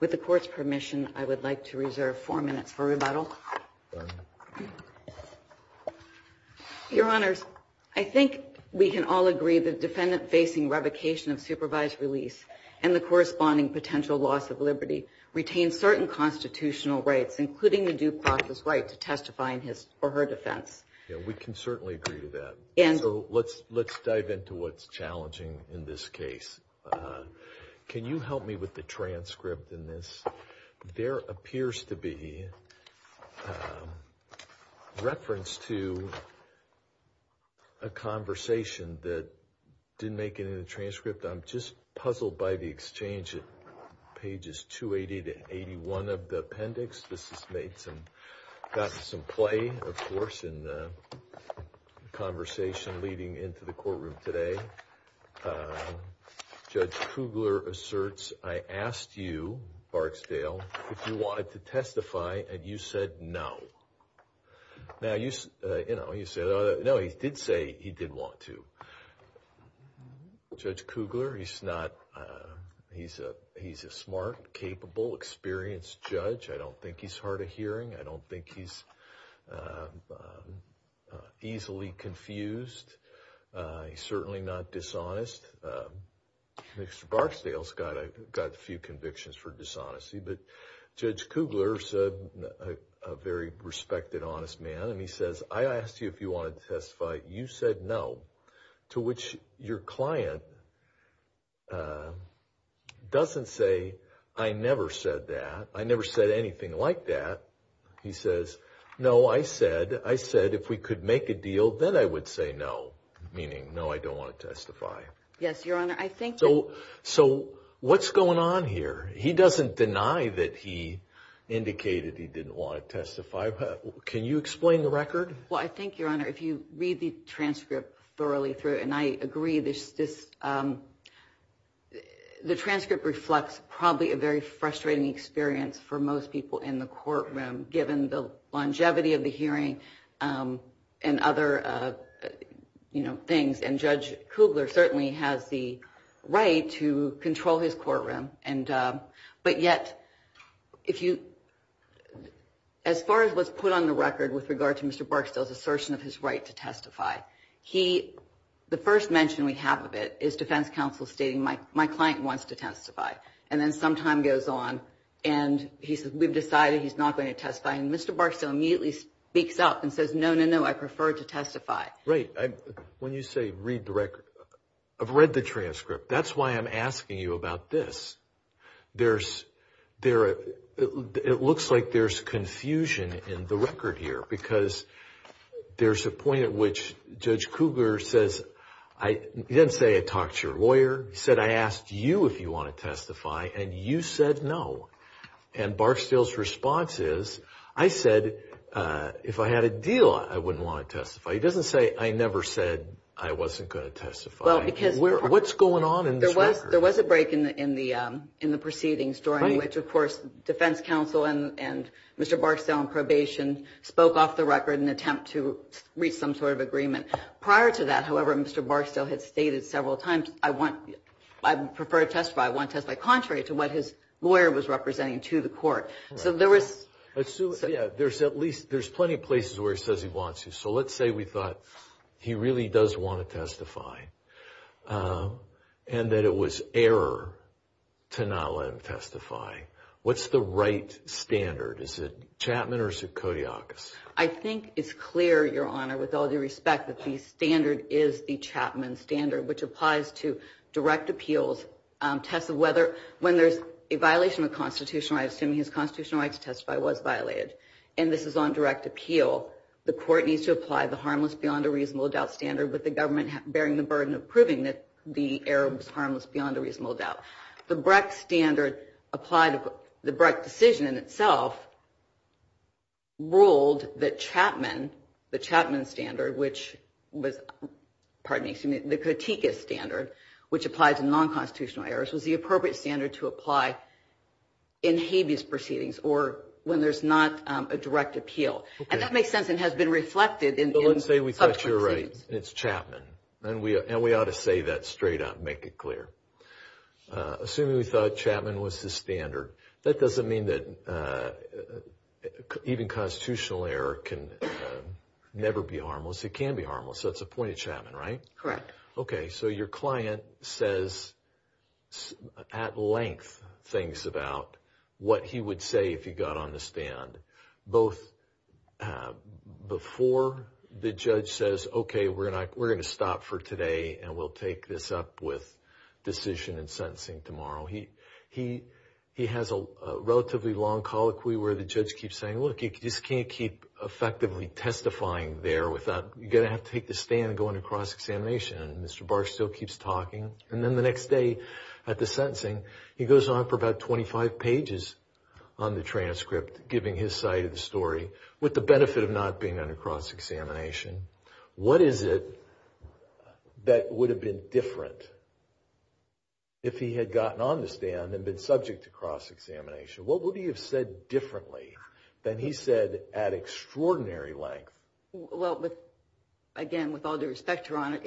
with the court's permission, I would like to reserve four minutes for rebuttal. Your Honors, I think we can all agree the defendant facing revocation of supervised release, and the corresponding potential loss of liberty, retains certain constitutional rights, including the due process right to testify in his or her defense. Yeah, we can certainly agree to that, so let's dive into what's challenging in this case. Can you help me with the transcript in this? There appears to be reference to a conversation that didn't make it in the transcript. I'm just puzzled by the exchange at pages 280-81 of the appendix. This has gotten some play, of course, in the conversation leading into the courtroom today. Judge Kugler asserts, I asked you, Barksdale, if you wanted to testify, and you said no. Now, you know, you said, no, he did say he didn't want to. Judge Kugler, he's not, he's a smart, capable, experienced judge. I don't think he's hard of hearing, I don't think he's easily confused, he's certainly not dishonest, Mr. Barksdale's got a few convictions for dishonesty, but Judge Kugler's a very respected, honest man, and he says, I asked you if you wanted to testify, you said no. To which your client doesn't say, I never said that, I never said anything like that. He says, no, I said, if we could make a deal, then I would say no, meaning, no, I don't want to testify. Yes, Your Honor, I think that... So what's going on here? He doesn't deny that he indicated he didn't want to testify. Can you explain the record? Well, I think, Your Honor, if you read the transcript thoroughly through, and I agree, the transcript reflects probably a very frustrating experience for most people in the courtroom, given the longevity of the hearing and other things, and Judge Kugler certainly has the right to control his courtroom, but yet, as far as what's put on the record with regard to Mr. Barksdale's assertion of his right to testify, the first mention we have of it is defense counsel stating, my client wants to testify, and then some time goes on, and he says, we've decided he's not going to testify, and Mr. Barksdale immediately speaks up and says, no, no, no, I prefer to testify. Right. When you say, read the record, I've read the transcript. That's why I'm asking you about this. It looks like there's confusion in the record here, because there's a point at which Judge Kugler says, he didn't say, I talked to your lawyer, he said, I asked you if you want to testify, and you said no, and Barksdale's response is, I said, if I had a deal, I wouldn't want to testify. He doesn't say, I never said I wasn't going to testify. What's going on in this record? There was a break in the proceedings, during which, of course, defense counsel and Mr. Barksdale in probation spoke off the record in an attempt to reach some sort of agreement. Prior to that, however, Mr. Barksdale had stated several times, I prefer to testify, I want to testify, contrary to what his lawyer was representing to the court. So there was... Sue, yeah, there's plenty of places where he says he wants to. So let's say we thought he really does want to testify, and that it was error to not let him testify. What's the right standard? Is it Chapman or is it Kodiakos? I think it's clear, Your Honor, with all due respect, that the standard is the Chapman standard, which applies to direct appeals, tests of whether... When there's a violation of constitutional rights, assuming his constitutional rights to testify was violated, and this is on direct appeal, the court needs to apply the harmless beyond a reasonable doubt standard with the government bearing the burden of proving that the error was harmless beyond a reasonable doubt. The Breck standard applied... The Breck decision in itself ruled that Chapman, the Chapman standard, which was... Pardon me, excuse me, the Kodiakos standard, which applies to non-constitutional errors, was the appropriate standard to apply in habeas proceedings or when there's not a direct appeal. And that makes sense and has been reflected in subsequent proceedings. But let's say we thought you were right, it's Chapman, and we ought to say that straight out and make it clear. Assuming we thought Chapman was the standard, that doesn't mean that even constitutional error can never be harmless. It can be harmless. That's the point of Chapman, right? Correct. Okay, so your client says at length things about what he would say if he got on the stand, both before the judge says, okay, we're going to stop for today and we'll take this up with decision and sentencing tomorrow. He has a relatively long colloquy where the judge keeps saying, look, you just can't keep effectively testifying there without... Mr. Barr still keeps talking. And then the next day at the sentencing, he goes on for about 25 pages on the transcript, giving his side of the story with the benefit of not being under cross-examination. What is it that would have been different if he had gotten on the stand and been subject to cross-examination? What would he have said differently than he said at extraordinary length? Well, again, with all due respect, Your Honor,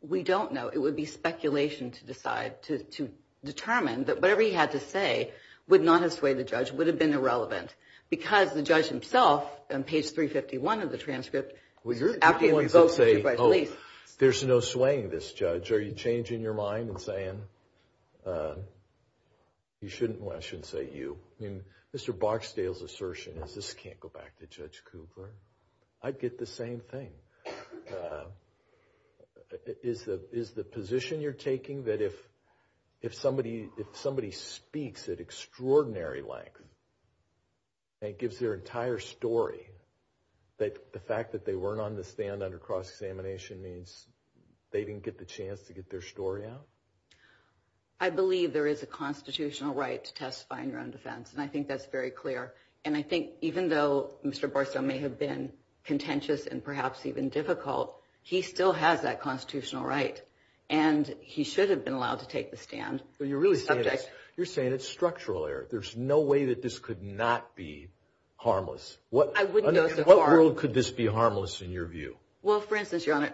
we don't know. It would be speculation to decide, to determine that whatever he had to say would not have swayed the judge, would have been irrelevant. Because the judge himself, on page 351 of the transcript, after he revoked the judge's release... There's no swaying this judge. Are you changing your mind and saying, I shouldn't say you? Mr. Boxdale's assertion is, this can't go back to Judge Kugler. I'd get the same thing. Is the position you're taking that if somebody speaks at extraordinary length and gives their entire story, that the fact that they weren't on the stand under cross-examination means they didn't get the chance to get their story out? I believe there is a constitutional right to testify in your own defense, and I think that's very clear. And I think even though Mr. Boxdale may have been contentious and perhaps even difficult, he still has that constitutional right. And he should have been allowed to take the stand. But you're really saying this, you're saying it's structural error. There's no way that this could not be harmless. I wouldn't go so far. What world could this be harmless in your view? Well, for instance, Your Honor,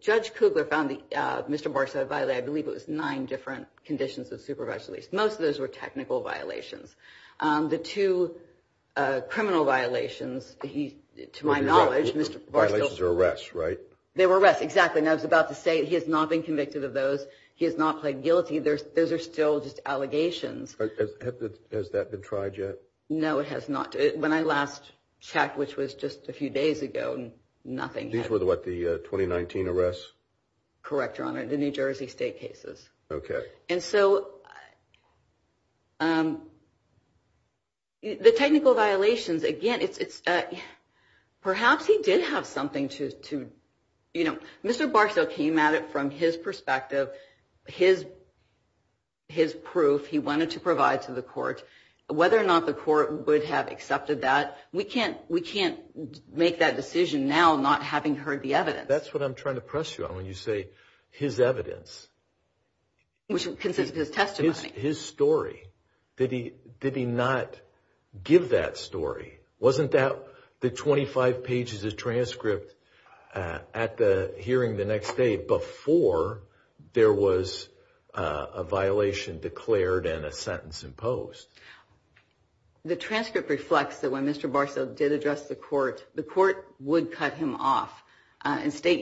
Judge Kugler found Mr. Boxdale violated, I believe it was nine different conditions of supervisory release. Most of those were technical violations. The two criminal violations, to my knowledge, Mr. Boxdale... Violations or arrests, right? They were arrests, exactly. And I was about to say, he has not been convicted of those. He has not pled guilty. Those are still just allegations. Has that been tried yet? No, it has not. When I last checked, which was just a few days ago, nothing. These were the, what, the 2019 arrests? Correct, Your Honor, the New Jersey state cases. Okay. And so the technical violations, again, perhaps he did have something to... Mr. Boxdale came at it from his perspective, his proof he wanted to provide to the court. Whether or not the court would have accepted that, we can't make that decision now not having heard the evidence. That's what I'm trying to press you on when you say his evidence. Which consists of his testimony. His story. Did he not give that story? Wasn't that the 25 pages of transcript at the hearing the next day before there was a violation declared and a sentence imposed? The transcript reflects that when Mr. Boxdale did address the court, the court would cut him off and state,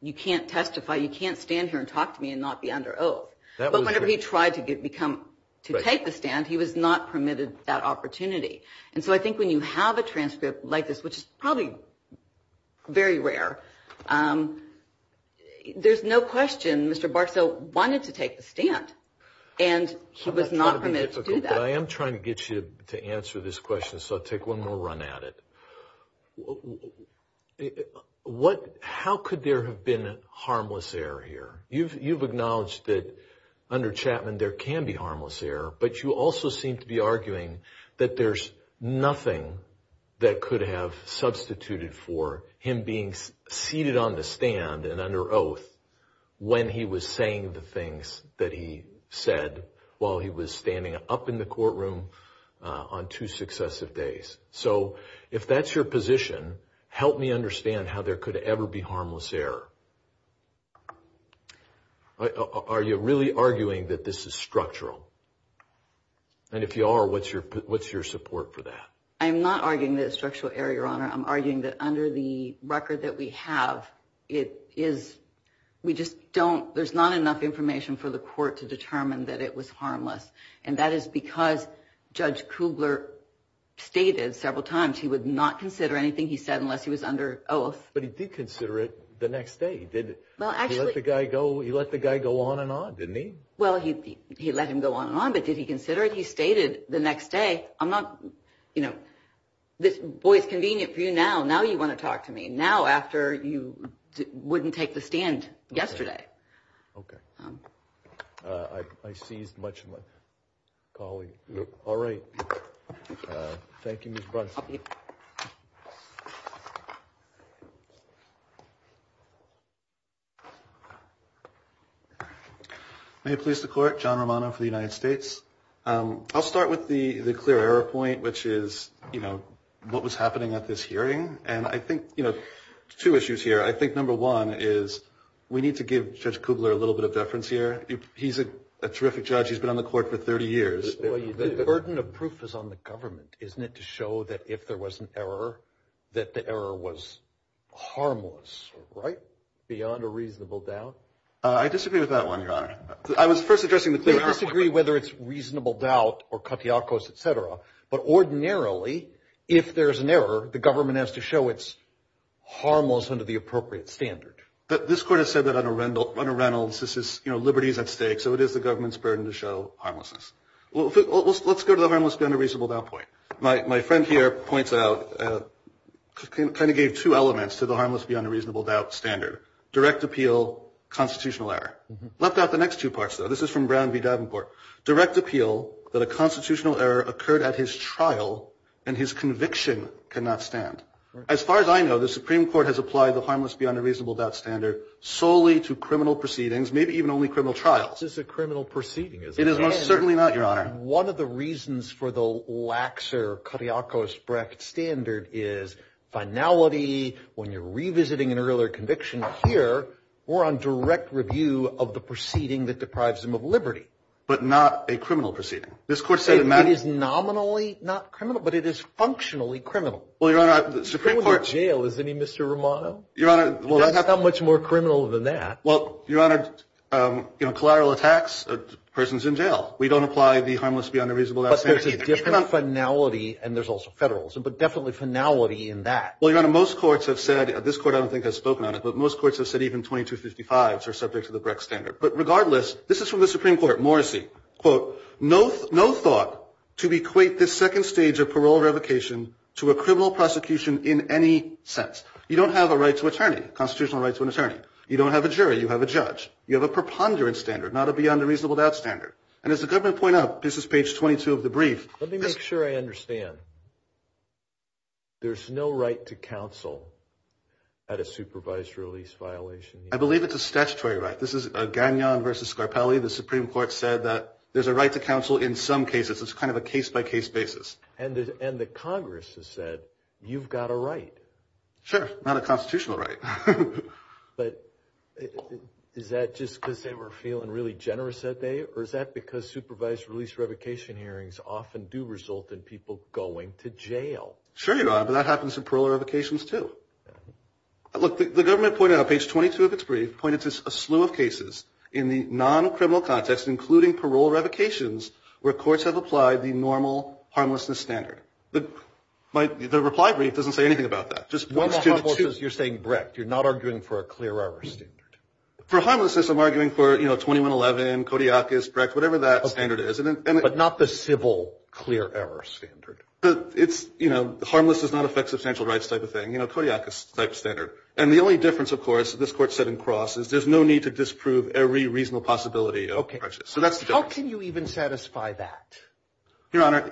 you can't testify, you can't stand here and talk to me and not be under oath. But whenever he tried to take the stand, he was not permitted that opportunity. And so I think when you have a transcript like this, which is probably very rare, there's no question Mr. Boxdale wanted to take the stand and he was not permitted to do that. I am trying to get you to answer this question, so I'll take one more run at it. How could there have been harmless error here? You've acknowledged that under Chapman there can be harmless error, but you also seem to be arguing that there's nothing that could have substituted for him being seated on the when he was saying the things that he said while he was standing up in the courtroom on two successive days. So if that's your position, help me understand how there could ever be harmless error. Are you really arguing that this is structural? And if you are, what's your support for that? I'm not arguing that it's structural error, Your Honor. I'm arguing that under the record that we have, there's not enough information for the court to determine that it was harmless. And that is because Judge Kugler stated several times he would not consider anything he said unless he was under oath. But he did consider it the next day. He let the guy go on and on, didn't he? Well, he let him go on and on, but did he consider it? He stated the next day, I'm not, you know, this boy is convenient for you now. Now you want to talk to me. Now after you wouldn't take the stand yesterday. OK. I seized much of my colleague. All right. Thank you, Ms. Bronson. May it please the court, John Romano for the United States. I'll start with the clear error point, which is, you know, what was happening at this hearing. And I think, you know, two issues here. I think number one is we need to give Judge Kugler a little bit of deference here. He's a terrific judge. He's been on the court for 30 years. The burden of proof is on the government, isn't it, to show that if there was an error, that the error was harmless, right? Beyond a reasonable doubt? I disagree with that one, Your Honor. I was first addressing the clear error point. They disagree whether it's reasonable doubt or katiakos, et cetera. But ordinarily, if there is an error, the government has to show it's harmless under the appropriate standard. This court has said that under Reynolds, this is, you know, liberty is at stake. So it is the government's burden to show harmlessness. Let's go to the harmless beyond a reasonable doubt point. My friend here points out, kind of gave two elements to the harmless beyond a reasonable doubt standard. Direct appeal, constitutional error. Left out the next two parts, though. This is from Brown v. Davenport. Direct appeal, that a constitutional error occurred at his trial, and his conviction cannot stand. As far as I know, the Supreme Court has applied the harmless beyond a reasonable doubt standard solely to criminal proceedings, maybe even only criminal trials. This is a criminal proceeding, isn't it? It is most certainly not, Your Honor. One of the reasons for the laxer katiakos bracket standard is finality. When you're revisiting an earlier conviction here, we're on direct review of the proceeding that deprives him of liberty. But not a criminal proceeding. This court said it matters. It is nominally not criminal, but it is functionally criminal. Well, Your Honor, the Supreme Court... Going to jail, isn't he, Mr. Romano? That's not much more criminal than that. Well, Your Honor, collateral attacks, a person's in jail. We don't apply the harmless beyond a reasonable doubt standard. But there's a different finality, and there's also federalism, but definitely finality in that. Well, Your Honor, most courts have said... This court, I don't think, has spoken on it, but most courts have said even 2255s are subject to the Brecht standard. But regardless, this is from the Supreme Court, Morrissey, quote, no thought to equate this second stage of parole revocation to a criminal prosecution in any sense. You don't have a constitutional right to an attorney. You don't have a jury. You have a judge. You have a preponderance standard, not a beyond a reasonable doubt standard. And as the government point out, this is page 22 of the brief... Let me make sure I understand. There's no right to counsel at a supervised release violation? I believe it's a statutory right. This is Gagnon v. Scarpelli. The Supreme Court said that there's a right to counsel in some cases. It's kind of a case-by-case basis. And the Congress has said, you've got a right. Sure. Not a constitutional right. But is that just because they were feeling really generous that day, or is that because supervised release revocation hearings often do result in people going to jail? Sure, Your Honor. But that happens in parole revocations, too. Look, the government pointed out, page 22 of its brief, pointed to a slew of cases in the non-criminal context, including parole revocations, where courts have applied the normal harmlessness standard. The reply brief doesn't say anything about that. Just one or two. No harmlessness. You're saying Brecht. You're not arguing for a clear error standard. For harmlessness, I'm arguing for, you know, 2111, Kodiakus, Brecht, whatever that standard is. But not the civil, clear error standard. But it's, you know, harmless does not affect substantial rights type of thing. You know, Kodiakus type of standard. And the only difference, of course, this Court said in Cross, is there's no need to disprove every reasonable possibility of prejudice. So that's the difference. How can you even satisfy that? Your Honor,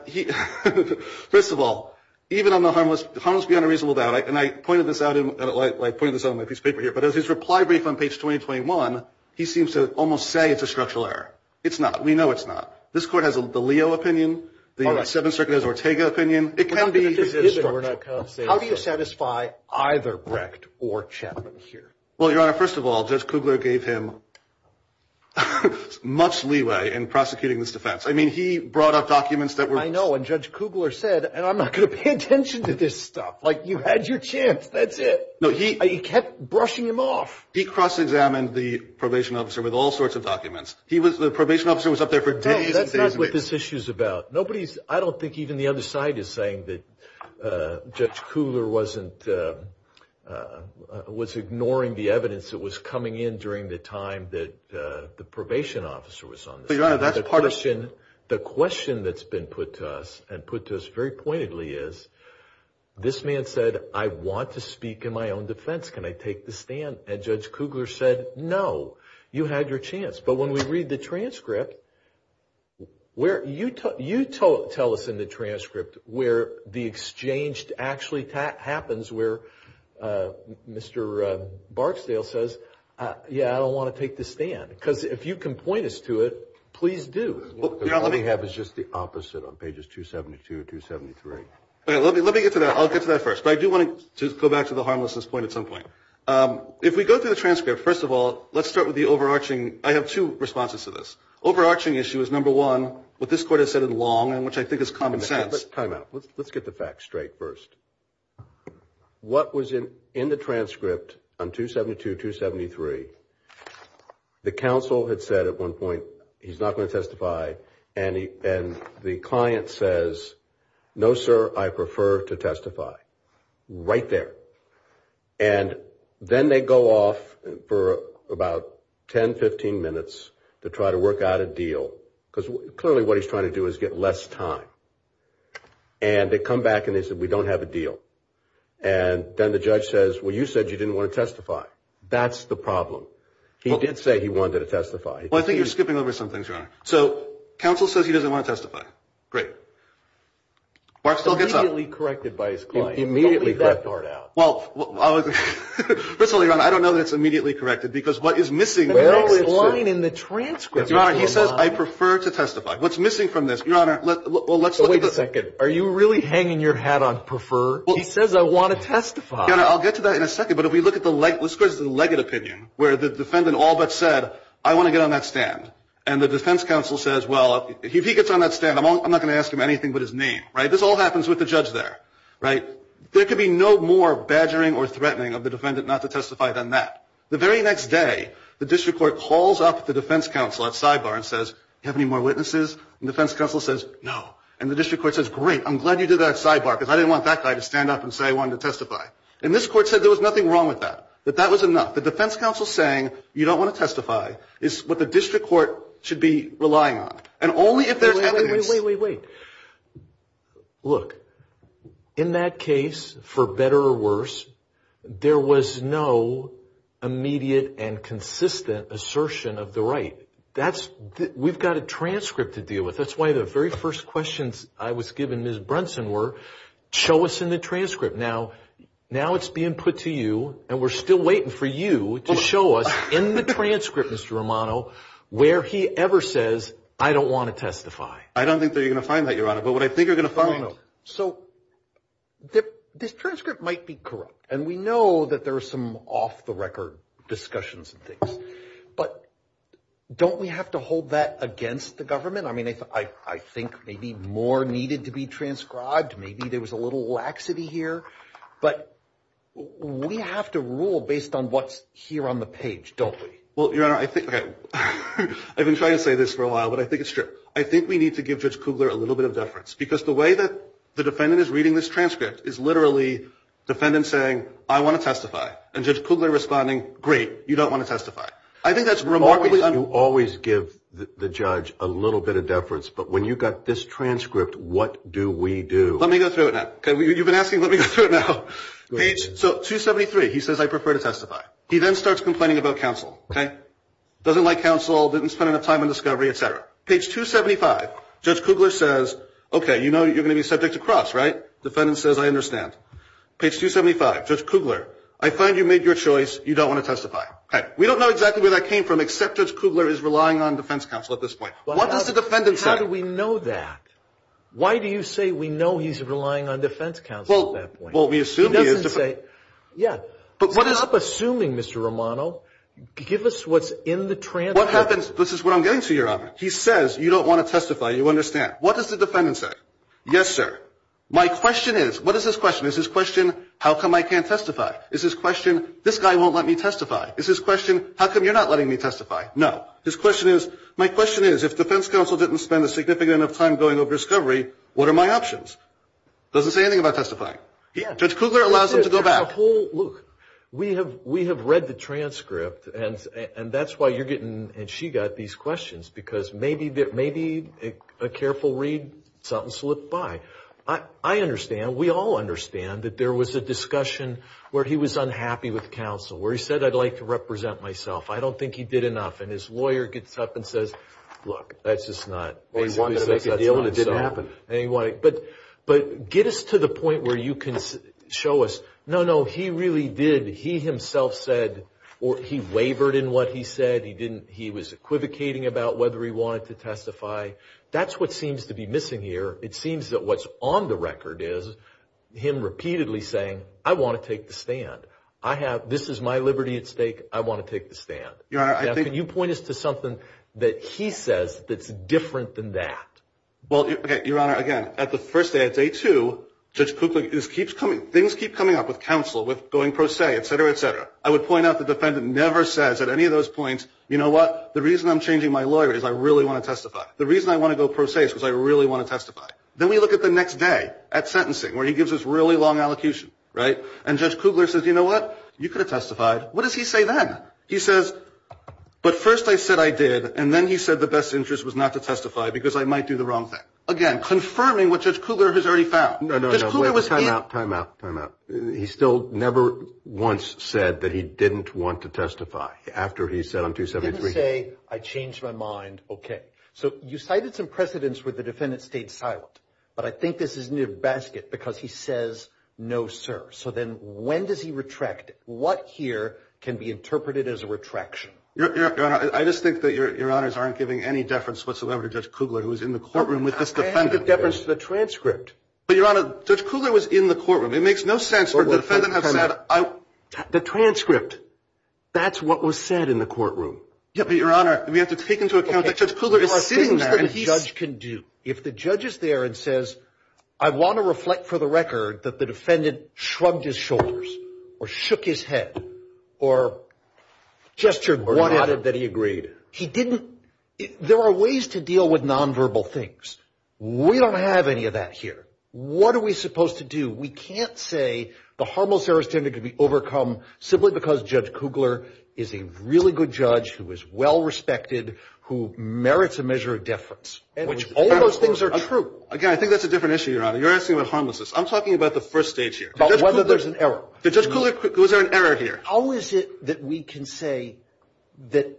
first of all, even on the harmless beyond a reasonable doubt, and I pointed this out in my piece of paper here, but as his reply brief on page 221, he seems to almost say it's a structural error. It's not. We know it's not. This Court has the Leo opinion, the Seventh Circuit has Ortega opinion. It can be. How do you satisfy either Brecht or Chapman here? Well, Your Honor, first of all, Judge Kugler gave him much leeway in prosecuting this defense. I mean, he brought up documents that were... I know. And Judge Kugler said, and I'm not going to pay attention to this stuff, like, you had your chance. That's it. No, he... He kept brushing him off. He cross-examined the probation officer with all sorts of documents. He was... The probation officer was up there for days and days and days. No. That's not what this issue's about. Nobody's... I don't think even the other side is saying that Judge Kugler wasn't... was ignoring the evidence that was coming in during the time that the probation officer was on the stand. So, Your Honor, that's part of... The question that's been put to us and put to us very pointedly is, this man said, I want to speak in my own defense. Can I take the stand? And Judge Kugler said, no. You had your chance. But when we read the transcript, where... You tell us in the transcript where the exchange actually happens where Mr. Barksdale says, yeah, I don't want to take the stand. Because if you can point us to it, please do. Because all we have is just the opposite on pages 272 and 273. Let me get to that. I'll get to that first. But I do want to go back to the harmlessness point at some point. If we go through the transcript, first of all, let's start with the overarching... I have two responses to this. Overarching issue is, number one, what this Court has said in Long, and which I think is common sense. Time out. Let's get the facts straight first. What was in the transcript on 272, 273, the counsel had said at one point, he's not going to testify, and the client says, no, sir, I prefer to testify. Right there. And then they go off for about 10, 15 minutes to try to work out a deal. Because clearly what he's trying to do is get less time. And they come back and they said, we don't have a deal. And then the judge says, well, you said you didn't want to testify. That's the problem. He did say he wanted to testify. Well, I think you're skipping over some things, Your Honor. So counsel says he doesn't want to testify. Great. Barth still gets up. Immediately corrected by his client. Immediately corrected. Don't leave that part out. Well, first of all, Your Honor, I don't know that it's immediately corrected. Because what is missing... Well, it's lying in the transcript. Your Honor, he says, I prefer to testify. What's missing from this? Wait a second. Are you really hanging your hat on prefer? He says, I want to testify. I'll get to that in a second. But if we look at the legate opinion, where the defendant all but said, I want to get on that stand. And the defense counsel says, well, if he gets on that stand, I'm not going to ask him anything but his name. Right? This all happens with the judge there. Right? There could be no more badgering or threatening of the defendant not to testify than that. The very next day, the district court calls up the defense counsel at sidebar and says, do you have any more witnesses? And the defense counsel says, no. And the district court says, great. I'm glad you did that at sidebar. Because I didn't want that guy to stand up and say he wanted to testify. And this court said there was nothing wrong with that. That that was enough. The defense counsel saying, you don't want to testify, is what the district court should be relying on. And only if there's evidence... Wait, wait, wait, wait, wait. Look, in that case, for better or worse, there was no immediate and consistent assertion of the right. We've got a transcript to deal with. That's why the very first questions I was given, Ms. Brunson, were, show us in the transcript. Now it's being put to you, and we're still waiting for you to show us in the transcript, Mr. Romano, where he ever says, I don't want to testify. I don't think that you're going to find that, Your Honor. But what I think you're going to find... No, no, no. So this transcript might be corrupt. And we know that there are some off-the-record discussions and things. But don't we have to hold that against the government? I mean, I think maybe more needed to be transcribed. Maybe there was a little laxity here. But we have to rule based on what's here on the page, don't we? Well, Your Honor, I think... Okay. I've been trying to say this for a while, but I think it's true. I think we need to give Judge Kugler a little bit of deference. Because the way that the defendant is reading this transcript is literally the defendant saying, I want to testify. And Judge Kugler responding, great, you don't want to testify. I think that's remarkably... You always give the judge a little bit of deference. But when you got this transcript, what do we do? Let me go through it now. You've been asking, let me go through it now. Page 273, he says, I prefer to testify. He then starts complaining about counsel. Doesn't like counsel, didn't spend enough time on discovery, etc. Page 275, Judge Kugler says, okay, you know you're going to be subject to cross, right? Defendant says, I understand. Page 275, Judge Kugler, I find you made your choice. You don't want to testify. Okay. We don't know exactly where that came from except Judge Kugler is relying on defense counsel at this point. What does the defendant say? How do we know that? Why do you say we know he's relying on defense counsel at that point? Well, we assume he is. He doesn't say... Yeah. But what is... Stop assuming, Mr. Romano. Give us what's in the transcript. What happens... This is what I'm getting to here, Robert. He says, you don't want to testify. You understand. What does the defendant say? Yes, sir. My question is... What is his question? Is his question, how come I can't testify? Is his question, this guy won't let me testify? Is his question, how come you're not letting me testify? No. His question is, my question is, if defense counsel didn't spend a significant amount of time going over discovery, what are my options? Doesn't say anything about testifying. Yeah. Judge Kugler allows them to go back. Look, we have read the transcript and that's why you're getting and she got these questions because maybe a careful read, something slipped by. I understand, we all understand that there was a discussion where he was unhappy with counsel, where he said, I'd like to represent myself. I don't think he did enough. And his lawyer gets up and says, look, that's just not... He wanted to make a deal and it didn't happen. But get us to the point where you can show us, no, no, he really did. He himself said, or he wavered in what he said. He was equivocating about whether he wanted to testify. That's what seems to be missing here. It seems that what's on the record is him repeatedly saying, I want to take the stand. I have... This is my liberty at stake. I want to take the stand. Your Honor, I think... Can you point us to something that he says that's different than that? Well, your Honor, again, at the first day, at day two, Judge Kugler just keeps coming... Things keep coming up with counsel, with going pro se, et cetera, et cetera. I would point out the defendant never says at any of those points, you know what? The reason I'm changing my lawyer is I really want to testify. The reason I want to go pro se is because I really want to testify. Then we look at the next day, at sentencing, where he gives this really long allocution, right? And Judge Kugler says, you know what? You could have testified. What does he say then? He says, but first I said I did, and then he said the best interest was not to testify because I might do the wrong thing. Again, confirming what Judge Kugler has already found. No, no, no. Time out, time out, time out. He still never once said that he didn't want to testify after he said on 273... He didn't say, I changed my mind, okay. So you cited some precedents where the defendant stayed silent. But I think this is in your basket because he says no, sir. So then when does he retract? What here can be interpreted as a retraction? Your Honor, I just think that Your Honors aren't giving any deference whatsoever to Judge Kugler, who is in the courtroom with this defendant. I have the deference to the transcript. But Your Honor, Judge Kugler was in the courtroom. It makes no sense for the defendant to have said... The transcript. That's what was said in the courtroom. But Your Honor, we have to take into account that Judge Kugler is sitting there... There are things that a judge can do. If the judge is there and says, I want to reflect for the record that the defendant shrugged his shoulders, or shook his head, or gestured... Or nodded that he agreed. He didn't... There are ways to deal with nonverbal things. We don't have any of that here. What are we supposed to do? We can't say the harmless error standard can be overcome simply because Judge Kugler is a really good judge, who is well respected, who merits a measure of deference. Which all those things are true. Again, I think that's a different issue, Your Honor. You're asking about harmlessness. I'm talking about the first stage here. About whether there's an error. Did Judge Kugler... Was there an error here? How is it that we can say that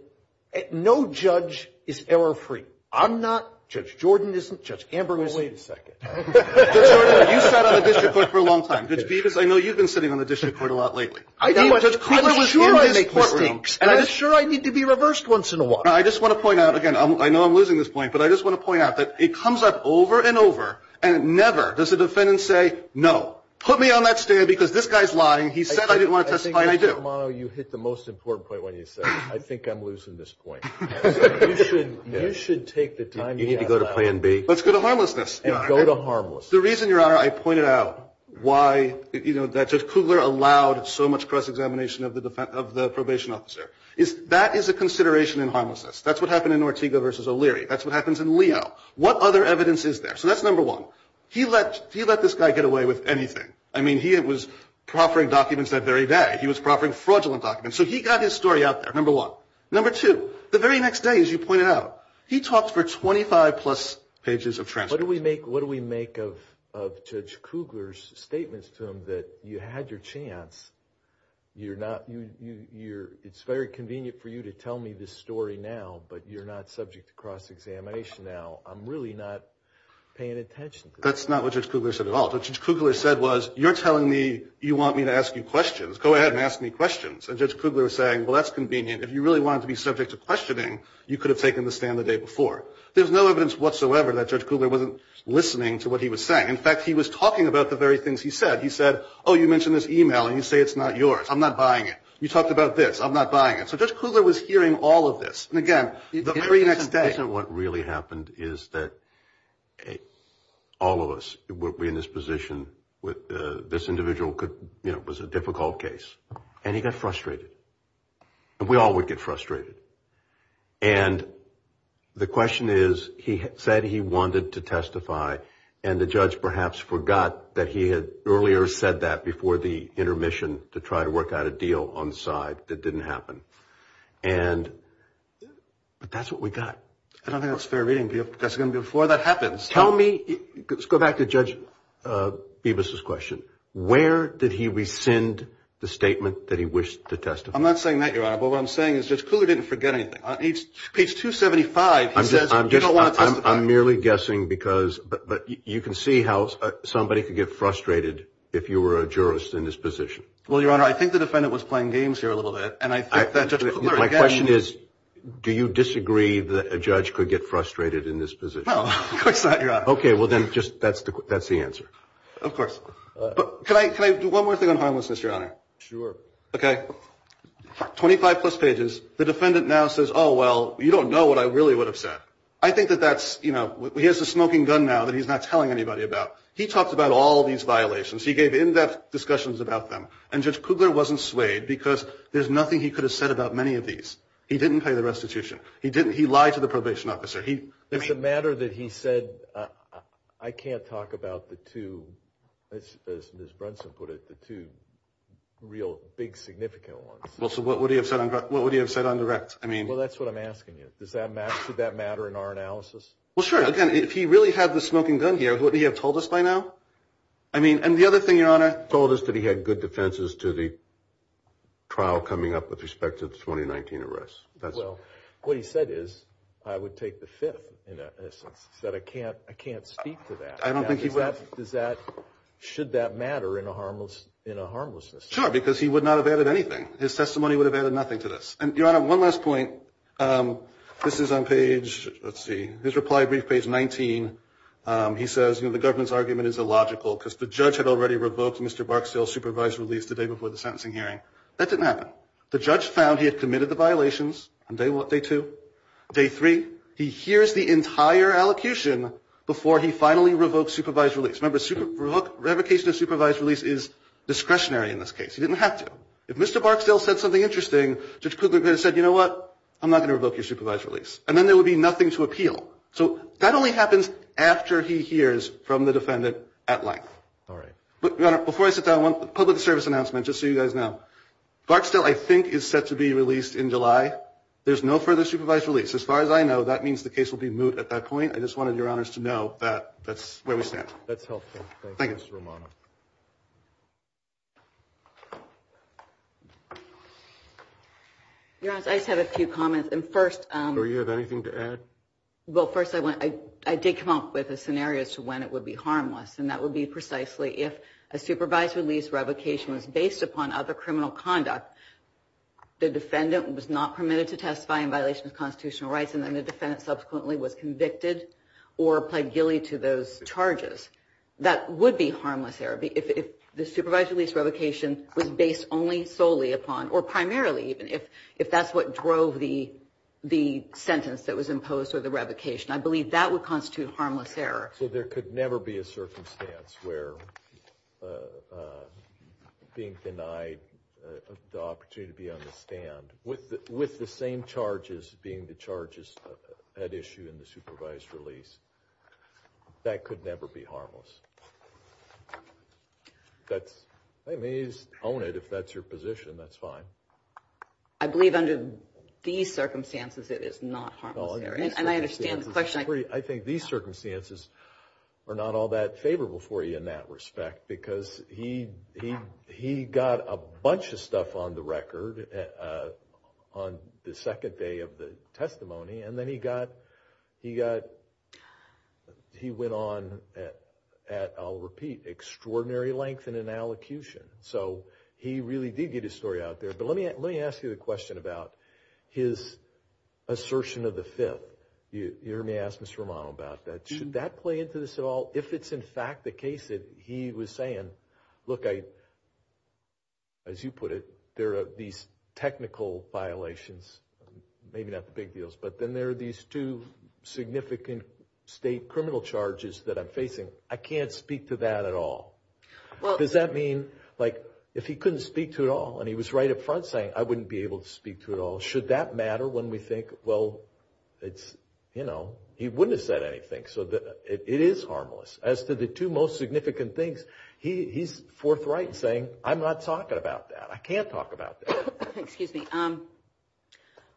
no judge is error-free? I'm not. Judge Jordan isn't. Judge Amber isn't. Wait a second. Judge Jordan, you sat on the district court for a long time. Judge Peeves, I know you've been sitting on the district court a lot lately. Judge Kugler was in his courtroom. And I'm sure I need to be reversed once in a while. I just want to point out, again, I know I'm losing this point, but I just want to point out that it comes up over and over, and never does a defendant say, no, put me on that stand because this guy's lying, he said I didn't want to testify, and I do. I think, Judge Romano, you hit the most important point when you said, I think I'm losing this point. You should take the time you have, Your Honor. Let's go to harmlessness, Your Honor. The reason, Your Honor, I pointed out why, you know, that Judge Kugler allowed so much cross-examination of the probation officer, is that is a consideration in harmlessness. That's what happened in Ortega v. O'Leary. That's what happens in Leo. What other evidence is there? So that's number one. He let this guy get away with anything. I mean, he was proffering documents that very day. He was proffering fraudulent documents. So he got his story out there, number one. Number two, the very next day, as you pointed out, he talked for 25-plus pages of transcripts. What do we make of Judge Kugler's statements to him that you had your chance, it's very convenient for you to tell me this story now, but you're not subject to cross-examination now. I'm really not paying attention to that. That's not what Judge Kugler said at all. What Judge Kugler said was, you're telling me you want me to ask you questions. Go ahead and ask me questions. And Judge Kugler was saying, well, that's convenient. If you really wanted to be subject to questioning, you could have taken the stand the day before. There's no evidence whatsoever that Judge Kugler wasn't listening to what he was saying. In fact, he was talking about the very things he said. He said, oh, you mentioned this e-mail, and you say it's not yours. I'm not buying it. You talked about this. I'm not buying it. So Judge Kugler was hearing all of this. And again, the very next day. What really happened is that all of us would be in this position with this individual could, you know, it was a difficult case. And he got frustrated. And we all would get frustrated. And the question is, he said he wanted to testify. And the judge perhaps forgot that he had earlier said that before the intermission to try to work out a deal on the side that didn't happen. And that's what we got. I don't think that's fair reading. That's going to be before that happens. Tell me, let's go back to Judge Bibas's question. Where did he rescind the statement that he wished to testify? I'm not saying that, Your Honor. But what I'm saying is Judge Kugler didn't forget anything. On page 275, he says, you don't want to testify. I'm merely guessing because, but you can see how somebody could get frustrated if you were a jurist in this position. Well, Your Honor, I think the defendant was playing games here a little bit. And I think that Judge Kugler again. My question is, do you disagree that a judge could get frustrated in this position? No, of course not, Your Honor. Okay, well then, just, that's the answer. Of course. Can I do one more thing on harmlessness, Your Honor? Sure. Okay. So, 25 plus pages, the defendant now says, oh, well, you don't know what I really would have said. I think that that's, you know, he has a smoking gun now that he's not telling anybody about. He talked about all these violations. He gave in-depth discussions about them. And Judge Kugler wasn't swayed because there's nothing he could have said about many of these. He didn't pay the restitution. He didn't, he lied to the probation officer. It's a matter that he said, I can't talk about the two, as Ms. Brunson put it, the two real, big, significant ones. Well, so what would he have said on direct? Well, that's what I'm asking you. Does that matter? Should that matter in our analysis? Well, sure. Again, if he really had the smoking gun here, what would he have told us by now? I mean, and the other thing, Your Honor, he told us that he had good defenses to the trial coming up with respect to the 2019 arrest. Well, what he said is, I would take the fifth, in essence. He said, I can't speak to that. I don't think he would. Should that matter in a harmlessness? Sure, because he would not have added anything. His testimony would have added nothing to this. And, Your Honor, one last point. This is on page, let's see, his reply brief, page 19. He says, you know, the government's argument is illogical because the judge had already revoked Mr. Barksdale's supervised release the day before the sentencing hearing. That didn't happen. The judge found he had committed the violations on day two. Day three, he hears the entire allocution before he finally revoked supervised release. Remember, revocation of supervised release is discretionary in this case. He didn't have to. If Mr. Barksdale said something interesting, Judge Kugler could have said, you know what, I'm not going to revoke your supervised release. And then there would be nothing to appeal. So that only happens after he hears from the defendant at length. All right. But, Your Honor, before I sit down, one public service announcement, just so you guys know. Barksdale, I think, is set to be released in July. There's no further supervised release. As far as I know, that means the case will be moot at that point. I just wanted Your Honors to know that that's where we stand. That's helpful. Thank you, Mr. Romano. Your Honor, I just have a few comments. And first... Do you have anything to add? Well, first, I did come up with a scenario as to when it would be harmless. And that would be precisely if a supervised release revocation was based upon other criminal conduct, the defendant was not permitted to testify in violation of constitutional rights. And then the defendant subsequently was convicted or pled guilty to those charges. That would be harmless error. If the supervised release revocation was based only solely upon, or primarily even, if that's what drove the sentence that was imposed or the revocation. I believe that would constitute harmless error. So there could never be a circumstance where being denied the opportunity to be on the stand with the same charges being the charges at issue in the supervised release. That could never be harmless. That's... I mean, you own it if that's your position. That's fine. I believe under these circumstances it is not harmless error. And I understand the question... I think these circumstances are not all that favorable for you in that And then he got... He got... He went on at, I'll repeat, extraordinary length and in allocution. So he really did get his story out there. But let me ask you the question about his assertion of the fifth. You heard me ask Mr. Romano about that. Should that play into this at all? If it's in fact the case that he was saying, look, as you put it, there are these technical violations, maybe not the big deals, but then there are these two significant state criminal charges that I'm facing. I can't speak to that at all. Does that mean, like, if he couldn't speak to it all, and he was right up front saying, I wouldn't be able to speak to it all, should that matter when we think, well, it's, you know... He wouldn't have said anything, so it is harmless. As to the two most significant things, he's forthright in saying, I'm not talking about that. I can't talk about that. Excuse me.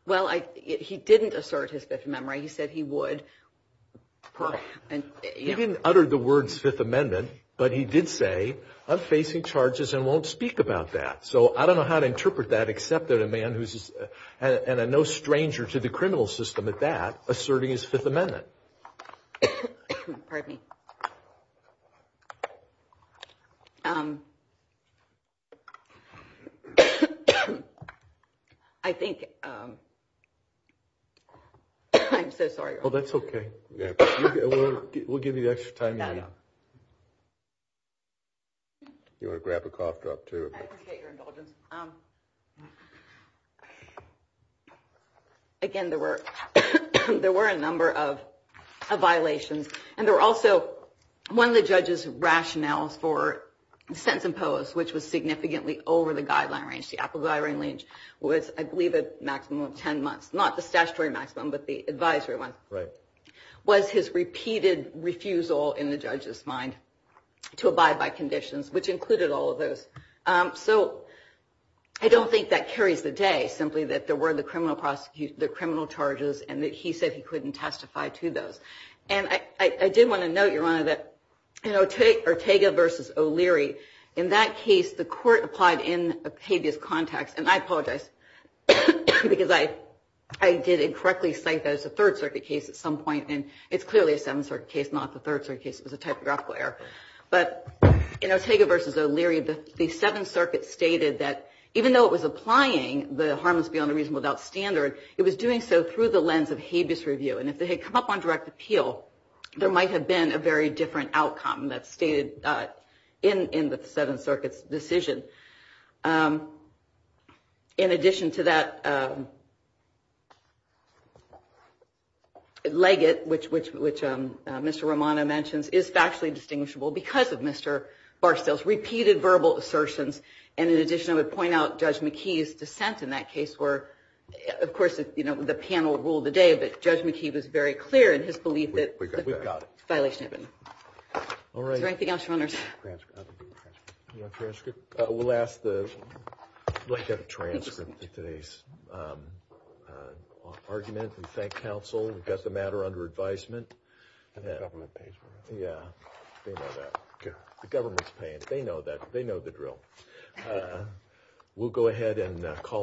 Well, he didn't assert his Fifth Amendment right. He said he would. He didn't utter the words Fifth Amendment, but he did say, I'm facing charges and won't speak about that. So I don't know how to interpret that, except that a man who's no stranger to the criminal system at that, I think... I'm so sorry. Oh, that's okay. We'll give you the extra time you need. You want to grab a cough drop, too? I appreciate your indulgence. Again, there were a number of violations, and there were also one of the judges' rationales for the sentence imposed, which was significantly over the guideline range. The applicable guideline range was, I believe, a maximum of ten months. Not the statutory maximum, but the advisory one. Right. Was his repeated refusal, in the judge's mind, to abide by conditions, which included all of those. So I don't think that carries the day, simply that there were the criminal charges and that he said he couldn't testify to those. In that case, the court applied in a habeas context. And I apologize, because I did incorrectly cite that as a Third Circuit case at some point. And it's clearly a Seventh Circuit case, not the Third Circuit case. It was a typographical error. But in Ortega v. O'Leary, the Seventh Circuit stated that, even though it was applying the harmless beyond a reasonable doubt standard, it was doing so through the lens of habeas review. And if they had come up on direct appeal, there might have been a very different outcome that's stated in the Seventh Circuit's decision. In addition to that, Leggett, which Mr. Romano mentions, is factually distinguishable because of Mr. Barstow's repeated verbal assertions. And in addition, I would point out Judge McKee's dissent in that case, where, of course, the panel ruled the day, but Judge McKee was very clear in his belief that the violation had been made.